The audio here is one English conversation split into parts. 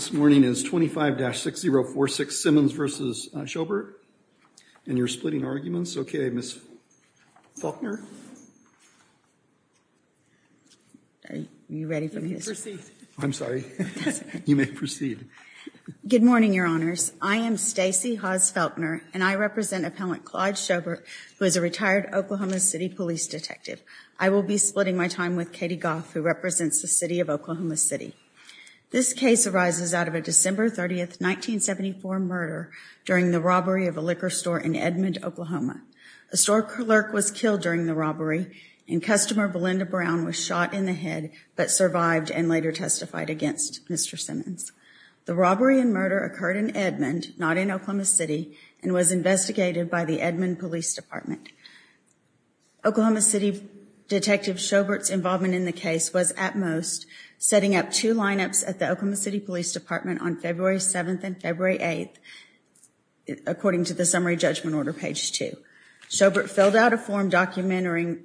This morning is 25-6046 Simmons v. Shobert and you're splitting arguments. Okay, Ms. Faulkner. Are you ready for me to speak? You may proceed. I'm sorry. You may proceed. Good morning, Your Honors. I am Stacey Hawes Faulkner and I represent Appellant Claude Shobert, who is a retired Oklahoma City Police Detective. I will be splitting my time with Katie Goff, who represents the City of Oklahoma City. This case arises out of a December 30th, 1974 murder during the robbery of a liquor store in Edmond, Oklahoma. A store clerk was killed during the robbery and customer Belinda Brown was shot in the head but survived and later testified against Mr. Simmons. The robbery and murder occurred in Edmond, not in Oklahoma City, and was investigated by the Edmond Police Department. Oklahoma City Detective Shobert's involvement in the case was, at most, setting up two lineups at the Oklahoma City Police Department on February 7th and February 8th, according to the summary judgment order page 2. Shobert filled out a form documenting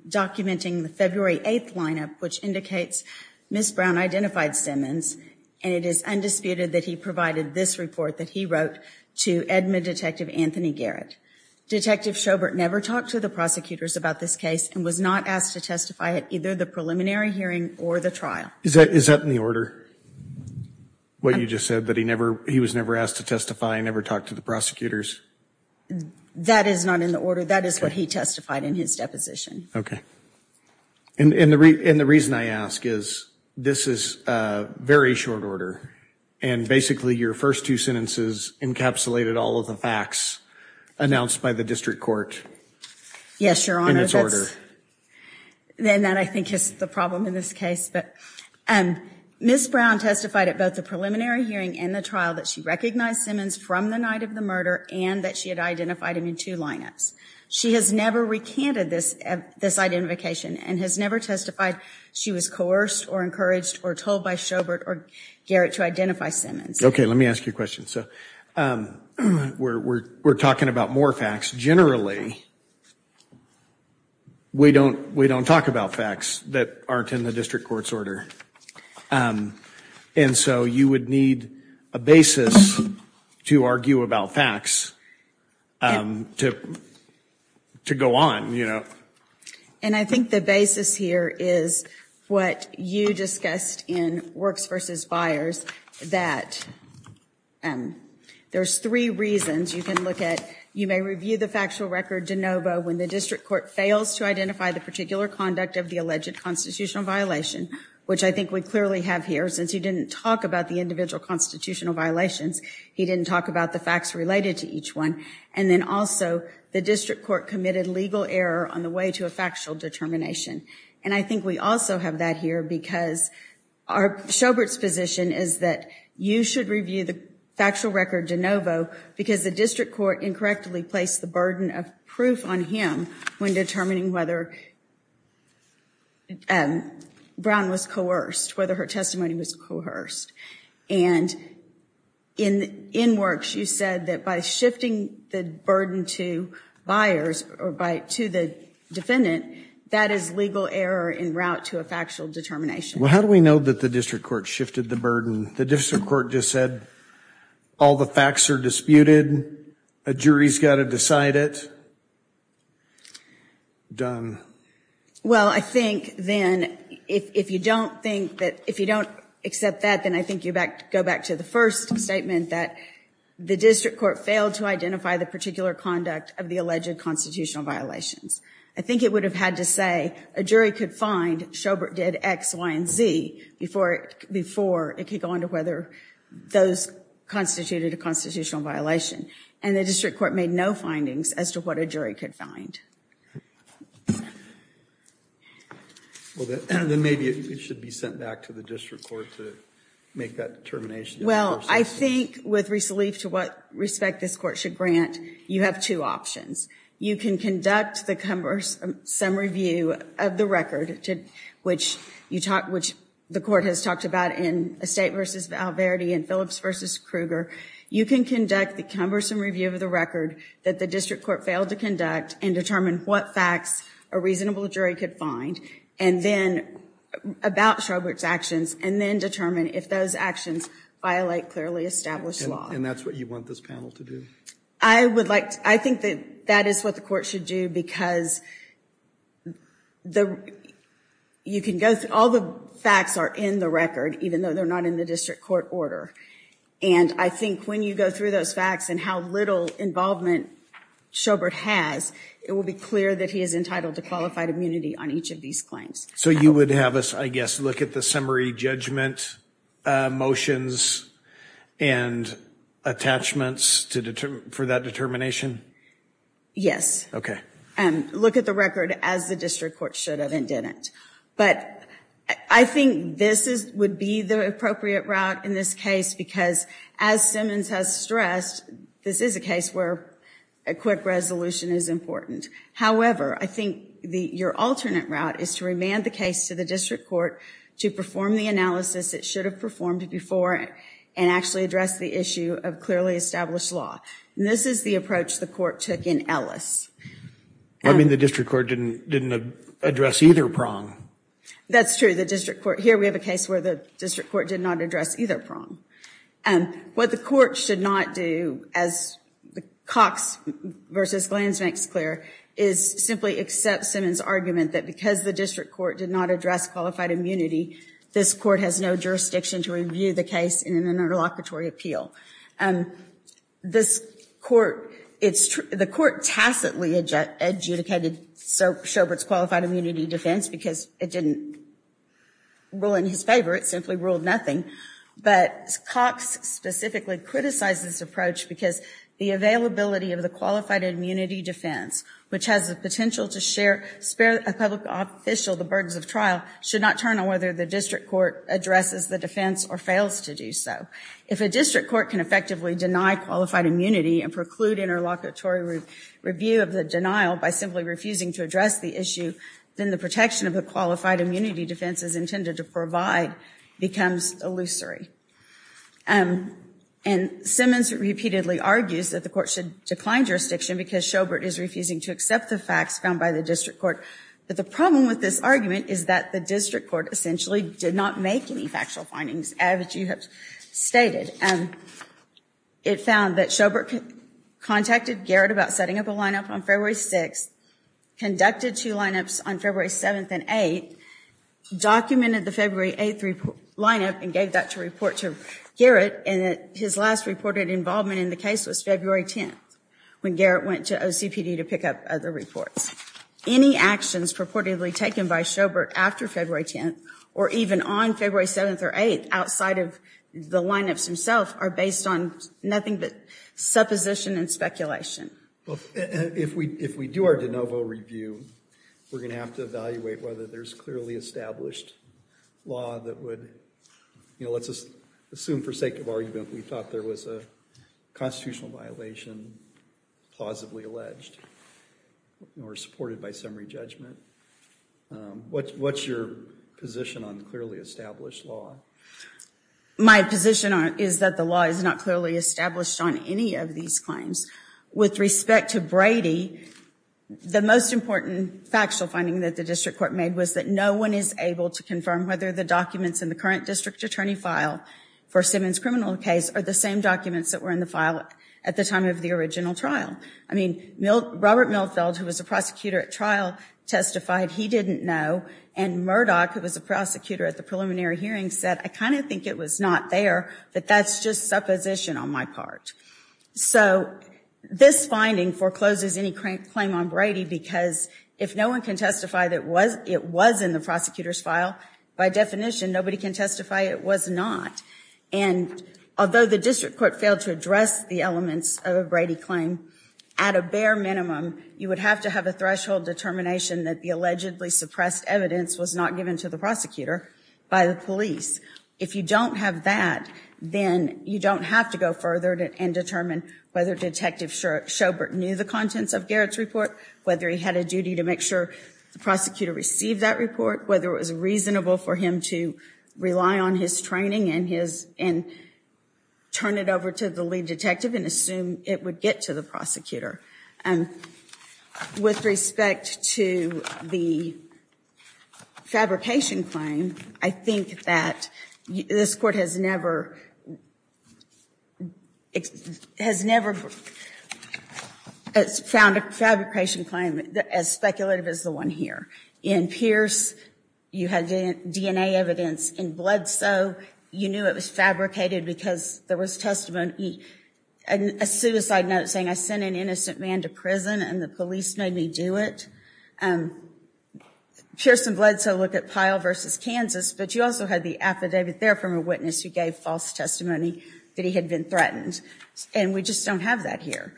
the February 8th lineup, which indicates Ms. Brown identified Simmons and it is undisputed that he provided this report that he wrote to Edmond Detective Anthony Garrett. Detective Shobert never talked to the prosecutors about this case and was not asked to testify at either the preliminary hearing or the trial. Is that in the order? What you just said, that he never, he was never asked to testify and never talked to the prosecutors? That is not in the order. That is what he testified in his deposition. Okay. And the reason I ask is this is a very short order and basically your first two sentences encapsulated all of the facts announced by the district court. Yes, Your Honor. Then that, I think, is the problem in this case. Ms. Brown testified at both the preliminary hearing and the trial that she recognized Simmons from the night of the murder and that she had identified him in two lineups. She has never recanted this identification and has never testified she was coerced or encouraged or told by Shobert or Garrett to identify Simmons. Okay, let me ask you a question. So we're talking about more facts generally. We don't, we don't talk about facts that aren't in the district court's order. And so you would need a basis to argue about facts to, to go on, you know. And I think the basis here is what you discussed in Works versus Buyers that there's three reasons you can look at. You may review the factual record de novo when the district court fails to identify the particular conduct of the alleged constitutional violation, which I think we clearly have here since he didn't talk about the individual constitutional violations. He didn't talk about the facts related to each one. And then also the district court committed legal error on the way to a factual determination. And I think we also have that here because our, Shobert's position is that you should review the factual record de novo because the district court incorrectly placed the burden of proof on him when determining whether Brown was coerced, whether her testimony was coerced. And in, in Works you said that by shifting the burden to Buyers or by, to the defendant, that is legal error in route to a factual determination. Well, how do we know that the district court shifted the burden? The district court just said all the facts are disputed. A jury's got to decide it. Done. Well, I think then if you don't think that, if you don't accept that, then I think you back, go back to the first statement that the district court failed to identify the particular conduct of the alleged constitutional violations. I think it would have had to say a jury could find, Shobert did X, Y, and Z before, before it could go on to whether those constituted a constitutional violation. And the district court made no findings as to what a jury could find. Well, then maybe it should be sent back to the district court to make that determination. Well, I think with Risa Leaf, to what respect this court should grant, you have two options. You can conduct the cumbersome review of the record, which you talk, which the court has talked about in Estate versus Val Verde and Phillips versus Kruger. You can conduct the cumbersome review of the record that the district court failed to conduct and determine what facts a reasonable jury could find, and then, about Shobert's actions, and then determine if those actions violate clearly established law. And that's what you want this panel to do. I would like, I think that that is what the court should do, because the, you can go through, all the facts are in the record, even though they're not in the district court order. And I think when you go through those facts and how little involvement Shobert has, it will be clear that he is entitled to qualified immunity on each of these claims. So you would have us, I think, your alternate route is to remand the case to the district court to perform the analysis it should have performed before and actually address the issue of clearly established law. And this is the approach the court took in Ellis. I mean the district court didn't, didn't address either prong. That's true, the district court, here we have a case where the district court did not address either prong. And what the court should not do, as the Cox versus Glanz makes clear, is simply accept Simmons' argument that because the district court did not address qualified immunity, this court has no jurisdiction to review the case in an interlocutory appeal. And this court, it's true, the court tacitly adjudicated Shobert's qualified immunity defense because it didn't rule in his favor, it simply ruled nothing. But Cox specifically criticized this approach because the availability of the qualified immunity defense, which has the share, spare a public official the burdens of trial, should not turn on whether the district court addresses the defense or fails to do so. If a district court can effectively deny qualified immunity and preclude interlocutory review of the denial by simply refusing to address the issue, then the protection of the qualified immunity defense is intended to provide becomes illusory. And Simmons repeatedly argues that the court should decline jurisdiction because Shobert is refusing to accept the facts found by the district court. But the problem with this argument is that the district court essentially did not make any factual findings as you have stated. And it found that Shobert contacted Garrett about setting up a lineup on February 6th, conducted two lineups on February 7th and 8th, documented the February 8th lineup and gave that to report to Garrett, and his last reported involvement in the case was February 10th when Garrett went to OCPD to pick up other reports. Any actions purportedly taken by Shobert after February 10th or even on February 7th or 8th outside of the lineups himself are based on nothing but supposition and speculation. If we if we do our de novo review, we're gonna have to evaluate whether there's clearly established law that would, you know, let's just assume for sake of argument we thought there was a constitutional violation plausibly alleged or supported by summary judgment. What's your position on clearly established law? My position is that the law is not clearly established on any of these claims. With respect to Brady, the most important factual finding that the district court made was that no one is able to confirm whether the documents in the current district attorney file for Simmons criminal case are the same documents that were in the file at the time of the original trial. I mean, Robert Milfeld, who was a prosecutor at trial, testified he didn't know, and Murdoch, who was a prosecutor at the preliminary hearing, said, I kind of think it was not there, but that's just supposition on my part. So this finding forecloses any claim on Brady because if no one can testify that was it was in the prosecutor's file, by definition nobody can testify it was not, and although the district court failed to address the elements of a Brady claim, at a bare minimum you would have to have a threshold determination that the allegedly suppressed evidence was not given to the prosecutor by the police. If you don't have that, then you don't have to go further and determine whether Detective Schobert knew the contents of Garrett's report, whether he had a duty to make sure the prosecutor received that report, whether it was reasonable for him to rely on his training and turn it over to the lead detective and assume it would get to the prosecutor. With respect to the fabrication claim, I think that this court has never found a fabrication claim as speculative as the one here. In Pierce, you had DNA evidence. In Bledsoe, you knew it was fabricated because there was testimony and a suicide note saying I sent an innocent man to prison and the police made me do it. Pierce and Bledsoe look at Pyle versus Kansas, but you also had the affidavit there from a witness who gave false testimony that he had been threatened, and we just don't have that here.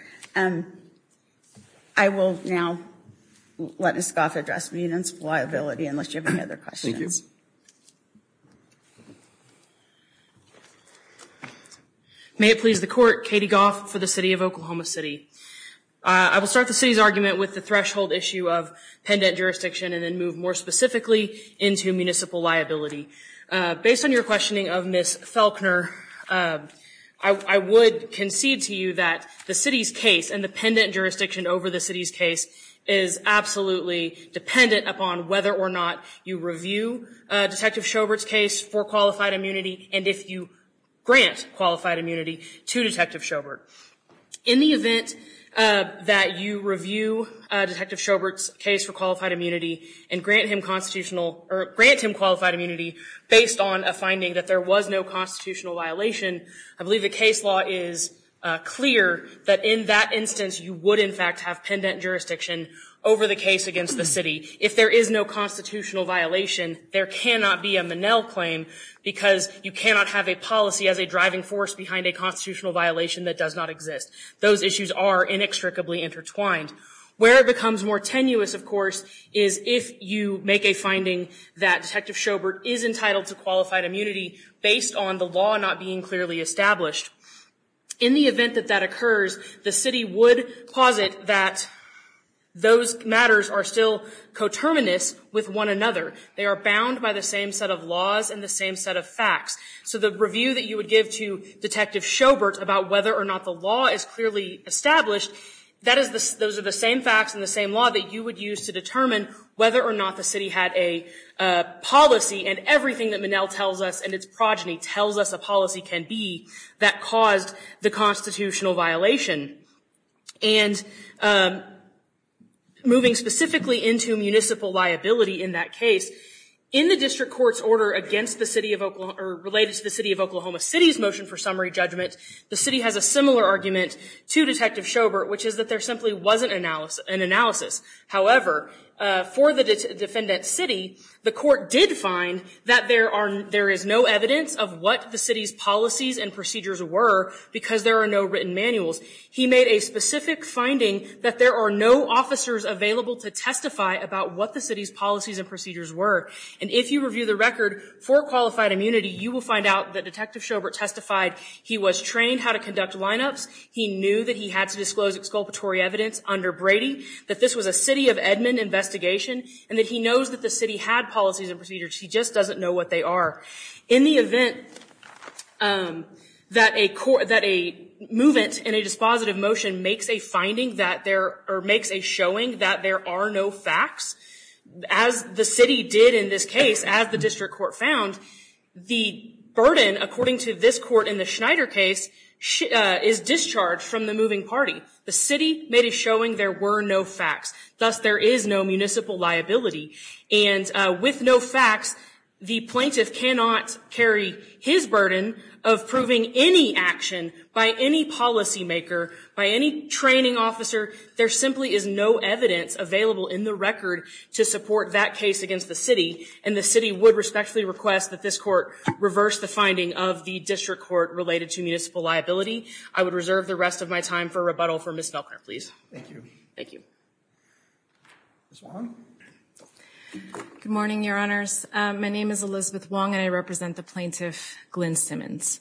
I will now let Ms. Goff address municipal liability unless you have any other questions. May it please the court, Katie Goff for the City of Oklahoma City. I will start the city's argument with the threshold issue of pendant jurisdiction and then move more specifically into municipal liability. Based on your questioning of Ms. Felkner, I would concede to you that the city's case and the pendant jurisdiction over the city's case is absolutely dependent upon whether or not you review Detective Sjobert's case for qualified immunity and if you grant qualified immunity to Detective Sjobert. In the event that you review Detective Sjobert's case for qualified immunity and grant him qualified immunity based on a finding that there was no constitutional violation, I believe the case law is clear that in that instance you would in fact have pendant jurisdiction over the case against the city. If there is no constitutional violation, there cannot be a Manel claim because you cannot have a policy as a driving force behind a constitutional violation that does not exist. Those issues are inextricably intertwined. Where it becomes more tenuous, of course, is if you make a finding that Detective Sjobert is entitled to qualified immunity based on the law not being clearly established. In the event that that occurs, the city would posit that those matters are still coterminous with one another. They are bound by the same set of laws and the same set of facts. So the review that you would give to Detective Sjobert about whether or not the law is clearly established, those are the same facts in the same law that you would use to determine whether or not the city had a policy and everything that Manel tells us and its progeny tells us a policy can be that caused the constitutional violation. And moving specifically into municipal liability in that case, in the district court's order against the city of Oklahoma or related to the city of Oklahoma City's motion for summary judgment, the city has a similar argument to Detective Sjobert which is that there simply wasn't an analysis. However, for the defendant's city, the court did find that there is no evidence of what the city's policies and procedures were because there are no written manuals. He made a specific finding that there are no officers available to testify about what the city's policies and procedures were. And if you review the record for qualified immunity, you will find out that Detective Sjobert testified he was trained how to conduct lineups, he knew that he had to disclose exculpatory evidence under Brady, that this was a city of Edmond investigation, and that he knows that the city had policies and procedures, he just doesn't know what they are. In the event that a movement in a dispositive motion makes a finding that there, or makes a showing that there are no facts, as the city did in this case, as the district court found, the burden according to this court in the Schneider case is discharged from the moving party. The city made a showing there were no facts, thus there is no municipal liability. And with no facts, the plaintiff cannot carry his burden of proving any action by any policymaker, by any training officer. There simply is no evidence available in the record to support that case against the city, and the city would respectfully request that this court reverse the finding of the district court related to municipal liability. I would reserve the rest of my time for rebuttal for Ms. Felker, please. Thank you. Good morning, Your Honors. My name is Elizabeth Wong, and I represent the plaintiff, Glynn Simmons.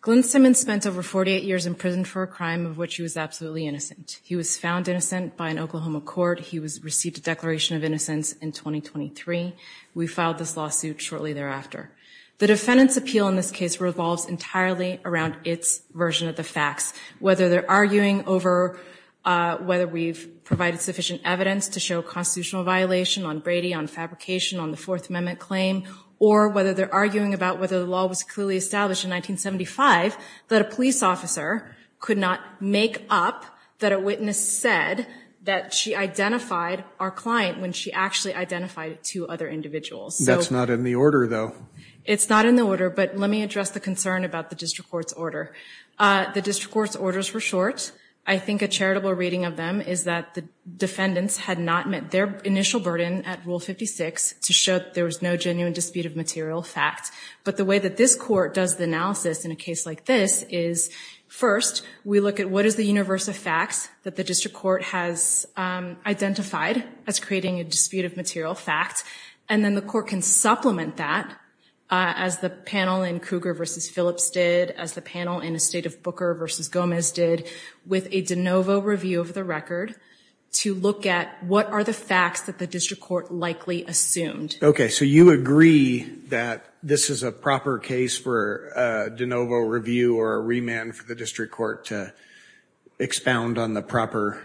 Glynn Simmons spent over 48 years in prison for a crime of which he was absolutely innocent. He was found innocent by an Oklahoma court. He received a declaration of innocence in 2023. We filed this lawsuit shortly thereafter. The defendant's appeal in this case revolves entirely around its version of the facts. Whether they're arguing over whether we've provided sufficient evidence to show constitutional violation on Brady, on fabrication, on the Fourth Amendment claim, or whether they're arguing about whether the law was clearly established in 1975, that a police officer could not make up that a witness said that she identified our client when she actually identified two other individuals. That's not in the order, though. It's not in the order, but let me address the concern about the district court's order. The district court's orders were short. I think a charitable reading of them is that the defendants had not met their initial burden at Rule 56 to show there was no genuine dispute of material fact. But the way that this court does the analysis in a case like this is, first, we look at what is the universe of facts that the district court has identified as creating a dispute of material facts, and then the court can supplement that, as the panel in Cougar v. Phillips did, as the panel in Estate of Booker v. Gomez did, with a de novo review of the record to look at what are the facts that the district court likely assumed. Okay, so you agree that this is a proper case for a de novo review or a remand for the district court to expound on the proper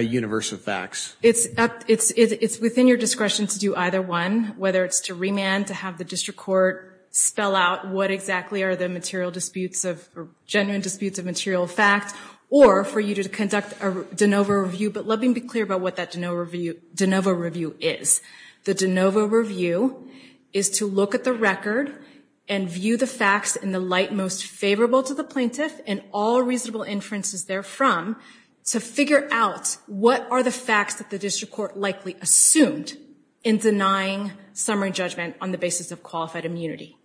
universe of facts? It's up, it's, it's within your discretion to do either one, whether it's to remand, to have the district court spell out what exactly are the material disputes of, genuine disputes of material fact, or for you to conduct a de novo review. But let me be clear about what that de novo review, de novo review is. The de novo review is to look at the record and view the facts in the light most favorable to the plaintiff, and all reasonable inferences therefrom, to figure out what are the facts that the district court likely assumed in denying summary judgment on the basis of qualified immunity.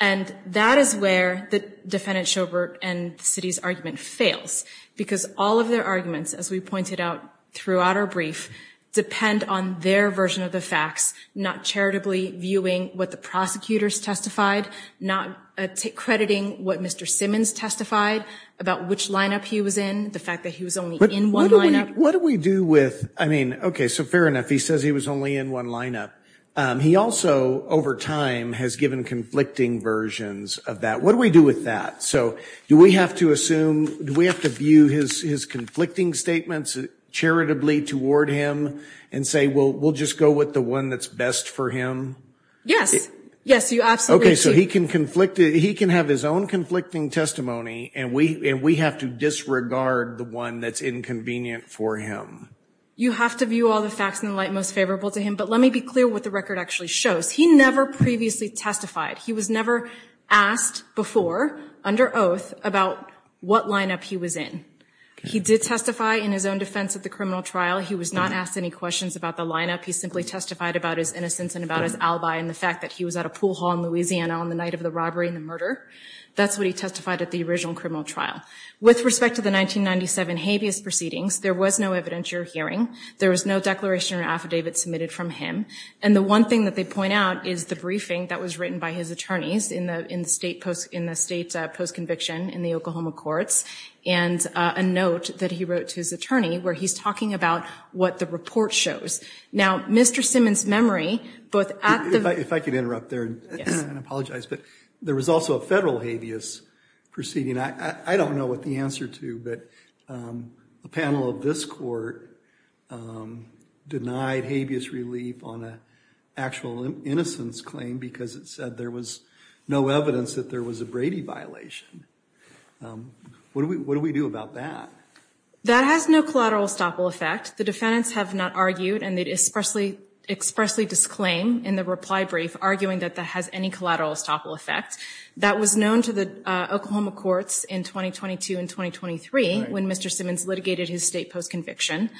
And that is where the defendant, Schobert, and the city's argument fails, because all of their arguments, as we pointed out throughout our brief, depend on their version of the facts, not charitably viewing what the prosecutors testified, not crediting what Mr. Simmons testified about which lineup he was in, the fact that he was only in one lineup. What do we do with, I mean, okay, so fair enough, he says he was only in one lineup. He also, over time, has given conflicting versions of that. What do we do with that? So do we have to assume, do we have to view his, his conflicting statements charitably toward him, and say, well, we'll just go with the one that's best for him? Yes. Yes, you absolutely do. Okay, so he can conflict it, he can have his own conflicting testimony, and we, and we have to disregard the one that's inconvenient for him. You have to view all the facts in the light most favorable to him, but let me be clear what the record actually shows. He never previously testified. He was never asked before, under oath, about what lineup he was in. He did testify in his own defense at the criminal trial. He was not asked any questions about the lineup. He simply testified about his innocence and about his alibi and the fact that he was at a pool hall in Louisiana on the night of the robbery and the murder. That's what he testified at the original criminal trial. With respect to the 1997 habeas proceedings, there was no evidence you're hearing. There was no declaration or affidavit submitted from him, and the one thing that they point out is the briefing that was written by his attorneys in the, in the state post, in the state post-conviction, in the Oklahoma courts, and a note that he wrote to his attorney where he's talking about what the report shows. Now, Mr. Simmons' memory, both at the... If I could interrupt there and apologize, but there was also a federal habeas proceeding. I don't know what the answer to, but a panel of this court denied habeas relief on a actual innocence claim because it said there was no evidence that there was a Brady violation. What do we, what do we do about that? That has no collateral estoppel effect. The defendants have not argued, and they expressly, expressly disclaim in the reply brief, arguing that that has any collateral estoppel effect. That was known to the Oklahoma courts in 2022 and 2023 when Mr. Simmons litigated his state post-conviction,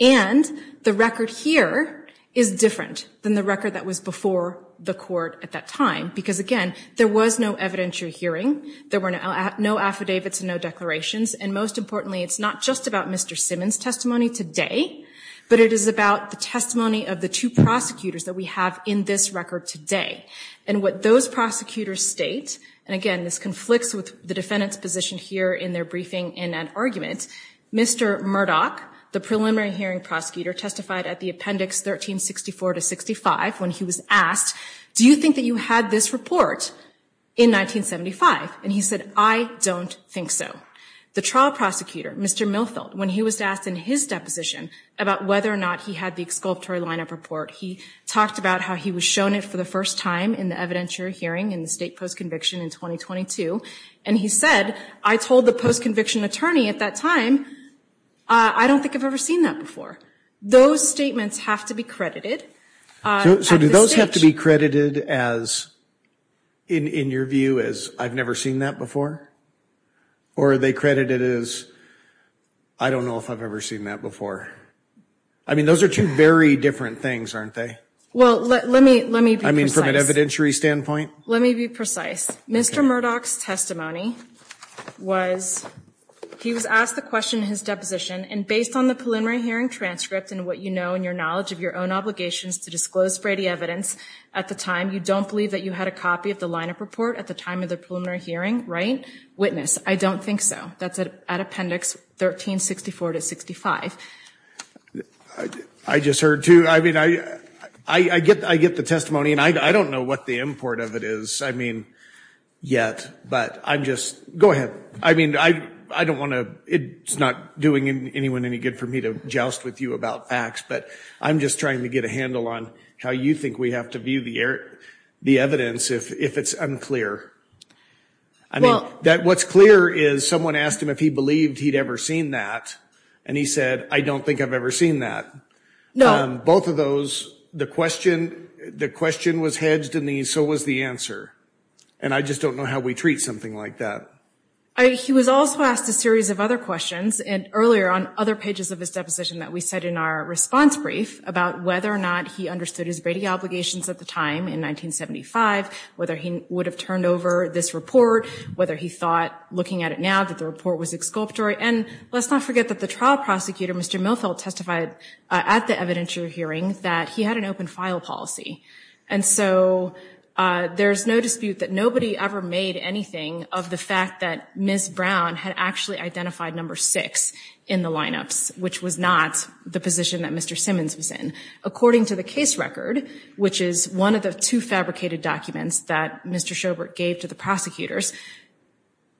and the record here is different than the record that was before the court at that time, because again, there was no evidentiary hearing. There were no affidavits and no declarations, and most importantly, it's not just about Mr. Simmons' testimony today, but it is about the testimony of the two prosecutors that we have in this record today, and what those prosecutors state, and again, this conflicts with the defendant's position here in their briefing in an argument, Mr. Murdoch, the preliminary hearing prosecutor, testified at the appendix 1364 to 65 when he was asked, do you think that you had this report in 1975? And he said, I don't think so. The trial prosecutor, Mr. Milfeld, when he was asked in his deposition about whether or not he had the exculpatory lineup report, he talked about how he was shown it for the first time in the evidentiary hearing in the state post-conviction in 2022, and he said, I told the post-conviction attorney at that time, I don't think I've ever seen that before. Those statements have to be credited. So do those have to be credited as, in your view, as I've never seen that before? Or are they credited as, I don't know if I've ever seen that before. I mean, those are two very different things, aren't they? Well, let me be precise. I mean, from an evidentiary standpoint? Let me be precise. Mr. Murdoch's testimony was, he was asked the question in his deposition, and based on the preliminary hearing transcript and what you know and your knowledge of your own obligations to disclose Brady evidence at the time, you don't believe that you had a copy of the lineup report at the time of the preliminary hearing, right? Witness, I don't think so. That's at appendix 1364 to 65. I just heard, too. I mean, I get the testimony, and I don't know what the import of it is, I mean, yet, but I'm just, go ahead. I mean, I don't want to, it's not doing anyone any good for me to joust with you about facts, but I'm just trying to get a handle on how you think we have to view the evidence if it's unclear. I mean, what's clear is someone asked him if he believed he'd ever seen that, and he said, I don't think I've ever seen that. No. Both of those, the question, the question was hedged, and so was the answer, and I just don't know how we treat something like that. He was also asked a series of other questions, and earlier on, other pages of his deposition that we said in our response brief about whether or not he understood his Brady obligations at the time in 1975, whether he would have turned over this report, whether he thought, looking at it now, that the report was exculpatory, and let's not forget that the trial prosecutor, Mr. Milfeld, testified at the evidentiary hearing that he had an open file policy, and so there's no dispute that nobody ever made anything of the fact that Ms. Brown had actually identified number six in the lineups, which was not the position that Mr. Simmons was in. According to the case record, which is one of the two fabricated documents that Mr. Schobert gave to the prosecutors,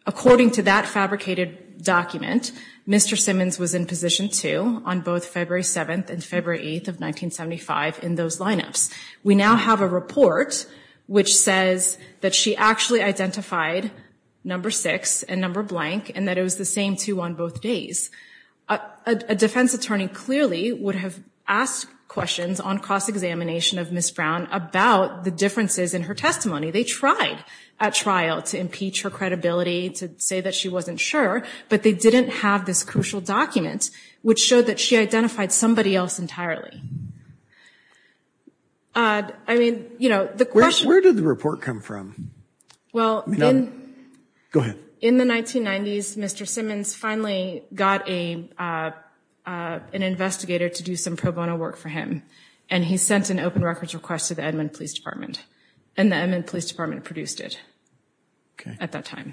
according to that fabricated document, Mr. Simmons was in position two on both February 7th and February 8th of 1975 in those lineups. We now have a report which says that she actually identified number six and number blank, and that it was the same two on both days. A defense attorney clearly would have asked questions on cross-examination of Ms. Brown about the differences in her testimony. They tried at trial to impeach her credibility, to say that she wasn't sure, but they didn't have this crucial document, which showed that she identified somebody else entirely. I mean, you know, the question... Where did the report come from? Well, in... Go ahead. In the 1990s, Mr. Simmons finally got a an investigator to do some pro bono work for him, and he sent an open records request to the Edmond Police Department, and the Edmond Police Department produced it at that time.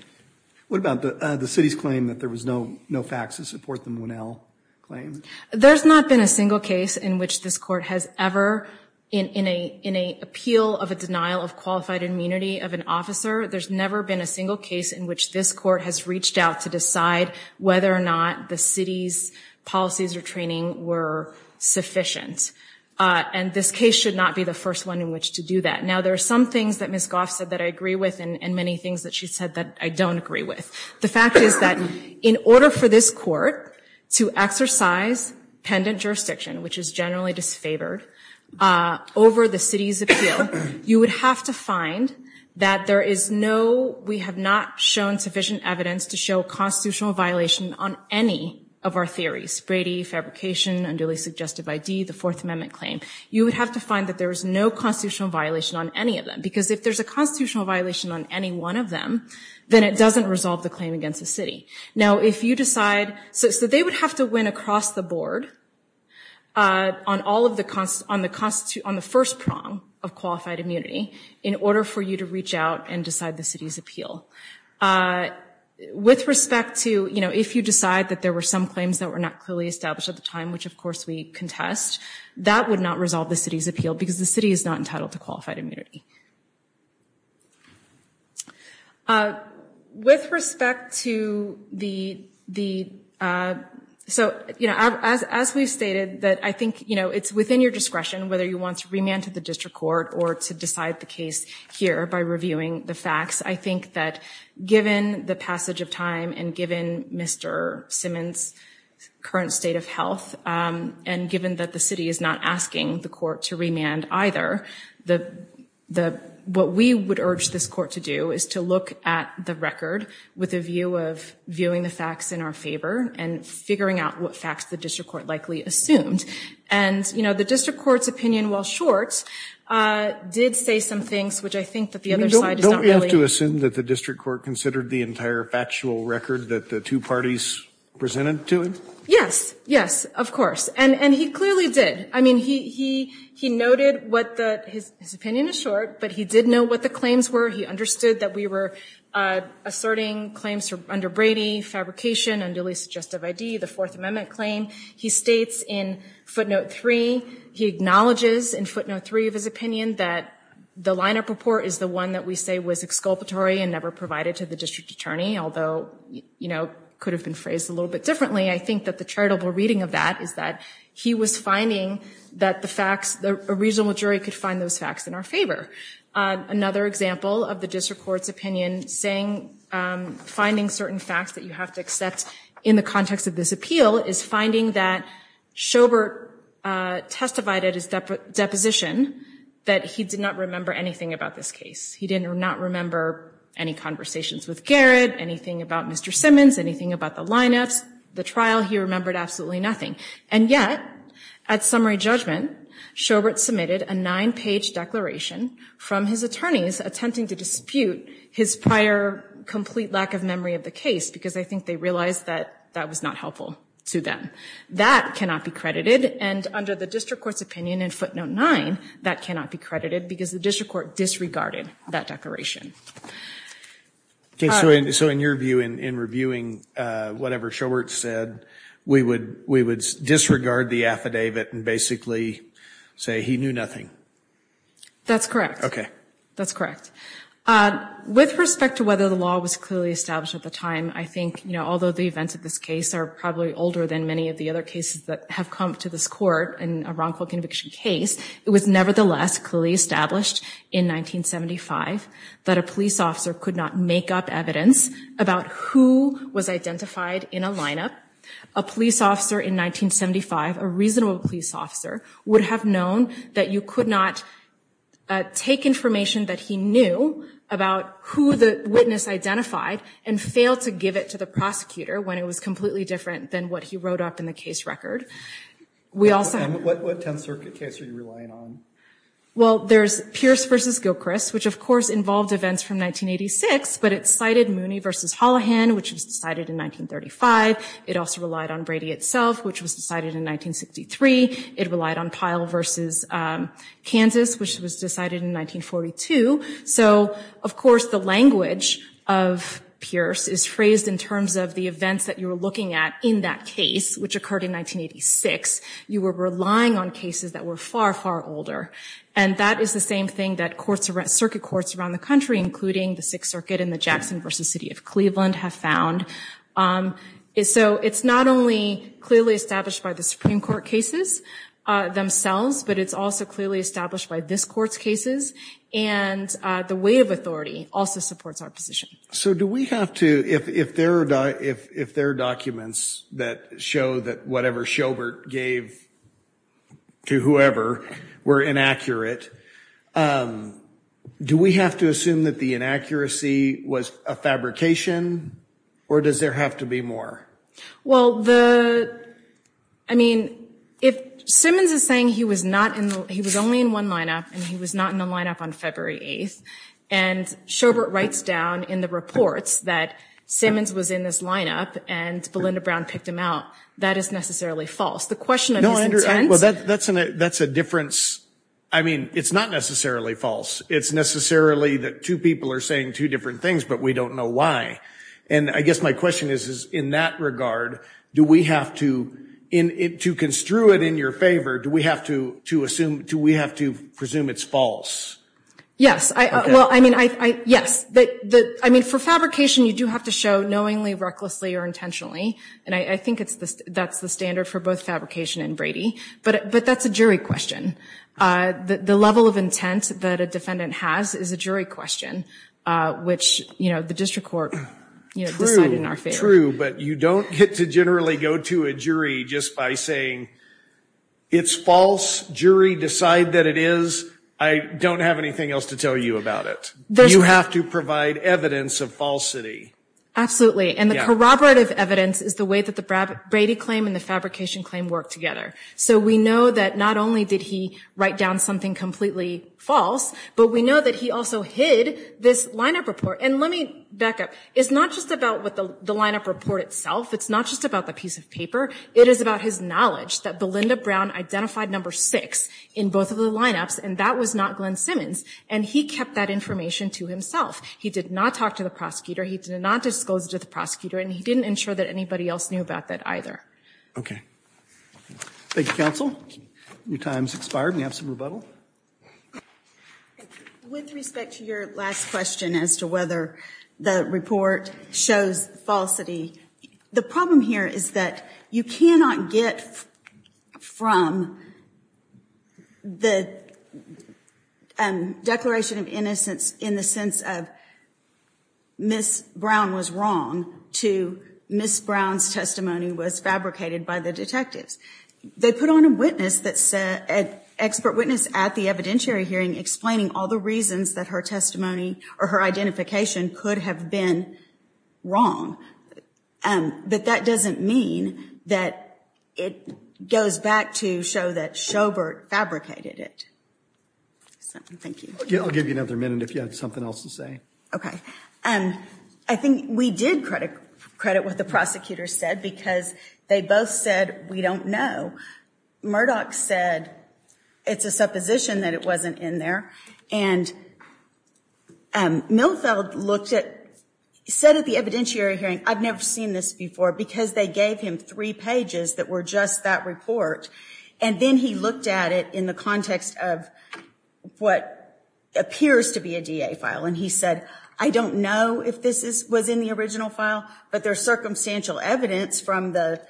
What about the city's claim that there was no fax to support the Monell claim? There's not been a single case in which this court has ever, in an appeal of a denial of qualified immunity of an officer, there's never been a single case in which this court has reached out to decide whether or not the city's policies or training were sufficient. And this case should not be the first one in which to do that. Now, there are some things that Ms. Goff said that I agree with, and many things that she said that I don't agree with. The fact is that in order for this court to exercise pendant jurisdiction, which is generally disfavored, over the city's appeal, you would have to find that there is no... We have not shown sufficient evidence to show constitutional violation on any of our theories. Brady, fabrication, unduly suggestive ID, the Fourth Amendment claim. You would have to find that there is no constitutional violation on any of them, because if there's a constitutional violation on any one of them, then it doesn't resolve the claim against the city. Now, if you decide... So they would have to win across the board on all of the... on the first prong of qualified immunity in order for you to reach out and decide the city's appeal. With respect to, you know, if you decide that there were some claims that were not clearly established at the time, which of course we contest, that would not resolve the city's appeal, because the city is not entitled to qualified immunity. With respect to the... So, you know, as we've stated, that I think, you know, it's within your discretion whether you want to remand to the district court or to decide the case here by reviewing the facts. I think that given the passage of time and given Mr. Simmons' current state of health, and given that the city is not asking the court to remand either, the... the... what we would urge this court to do is to look at the record with a view of viewing the facts in our favor and figuring out what facts the district court likely assumed. And, you know, the district court's opinion, while short, did say some things, which I think that the other side is not really... Don't we have to assume that the district court considered the entire factual record that the two parties presented to him? Yes. Yes, of course. And... and he clearly did. I mean, he... he... he noted what the... his opinion is short, but he did know what the claims were. He understood that we were asserting claims from under Brady, fabrication, unduly suggestive ID, the Fourth Amendment claim. He states in footnote 3, he acknowledges, in footnote 3 of his opinion, that the lineup report is the one that we say was exculpatory and never provided to the district attorney, although, you know, could have been phrased a little bit differently. I think that the charitable reading of that is that he was finding that the facts... the... a reasonable jury could find those facts in our favor. Another example of the district court's opinion saying... finding certain facts that you have to accept in the context of this appeal is finding that Sjobert testified at his deposition that he did not remember anything about this case. He did not remember any conversations with Garrett, anything about Mr. Simmons, anything about the lineups, the trial. He remembered absolutely nothing. And yet, at summary judgment, Sjobert submitted a nine-page declaration from his attorneys attempting to dispute his prior complete lack of memory of the case, because I think they realized that that was not helpful to them. That cannot be credited, and under the district court's opinion in footnote 9, that cannot be credited, because the district court disregarded that declaration. Okay, so in your view, in reviewing whatever Sjobert said, we would disregard the affidavit and basically say he knew nothing. That's correct. Okay. That's correct. With respect to whether the law was clearly established at the time, I think, you know, although the events of this case are probably older than many of the other cases that have come to this court in a wrongful conviction case, it was nevertheless clearly established in 1975 that a police officer could not make up evidence about who was identified in a lineup. A police officer in 1975, a reasonable police officer, would have known that you could not take information that he knew about who the witness identified and fail to give it to the prosecutor when it was completely different than what he wrote up in the case record. We also... Well, there's Pierce v. Gilchrist, which of course involved events from 1986, but it cited Mooney v. Holohan, which was decided in 1935. It also relied on Brady itself, which was decided in 1963. It relied on Pyle v. Kansas, which was decided in 1942. So, of course, the language of Pierce is phrased in terms of the events that you were looking at in that case, which occurred in 1986. You were relying on cases that were far, far older. And that is the same thing that courts around, circuit courts around the country, including the Sixth Circuit and the Jackson v. City of Cleveland, have found. So it's not only clearly established by the Supreme Court cases themselves, but it's also clearly established by this court's cases, and the weight of authority also supports our position. So do we have to, if there are documents that show that whatever Sjobert gave to whoever were inaccurate, do we have to assume that the inaccuracy was a fabrication, or does there have to be more? Well, the... I mean, if Simmons is saying he was only in one lineup, and he was not in the lineup on February 8th, and Sjobert writes down in the reports that Simmons was in this lineup, and Belinda Brown picked him out, that is necessarily false. The question of his intent... Well, that's a difference. I mean, it's not necessarily false. It's necessarily that two people are saying two different things, but we don't know why. And I guess my question is, in that regard, do we have to, to construe it in your favor, do we have to assume, do we have to presume it's false? Yes. Well, I mean, yes. I mean, for fabrication, you do have to show knowingly, recklessly, or intentionally, and I think that's the standard for both fabrication and Brady, but that's a jury question. The level of intent that a defendant has is a jury question, which, you know, the district court decided in our favor. True, true, but you don't get to generally go to a jury just by saying, it's false, jury, decide that it is. I don't have anything else to tell you about it. You have to provide evidence of falsity. Absolutely, and the corroborative evidence is the way that the Brady claim and the fabrication claim work together. So we know that not only did he write down something completely false, but we know that he also hid this lineup report, and let me back up. It's not just about what the lineup report itself, it's not just about the piece of paper, it is about his knowledge that Belinda Brown identified number six in both of the lineups, and that was not Glenn Simmons, and he kept that information to himself. He did not talk to the prosecutor, he did not disclose it to the prosecutor, and he didn't ensure that anybody else knew about that either. Okay. Thank you, counsel. Your time's expired. We have some rebuttal. With respect to your last question as to whether the report shows falsity, the problem here is that you cannot get from the declaration of innocence in the sense of, Ms. Brown was wrong, to Ms. Brown's testimony was fabricated by the detectives. They put on a witness that said, an expert witness at the evidentiary hearing, explaining all the reasons that her testimony or her identification could have been wrong, but that doesn't mean that it goes back to show that Schobert fabricated it. Thank you. I'll give you another minute if you have something else to say. Okay. I think we did credit what the prosecutor said, because they both said we don't know. Murdoch said it's a supposition that it wasn't in there, and Milfeld looked at, said at the evidentiary hearing, I've never seen this before, because they gave him three pages that were just that report, and then he looked at it in the context of what appears to be a DA file, and he said, I don't know if this was in the original file, but there's circumstantial evidence from the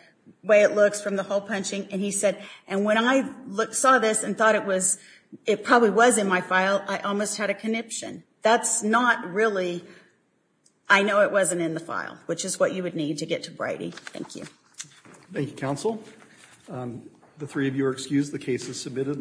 way it looks, from the hole-punching, and he said, and when I saw this and thought it was, it probably was in my file, I almost had a conniption. That's not really, I know it wasn't in the file, which is what you would need to get to Brady. Thank you. Thank you, counsel. The three of you are excused. The case is submitted.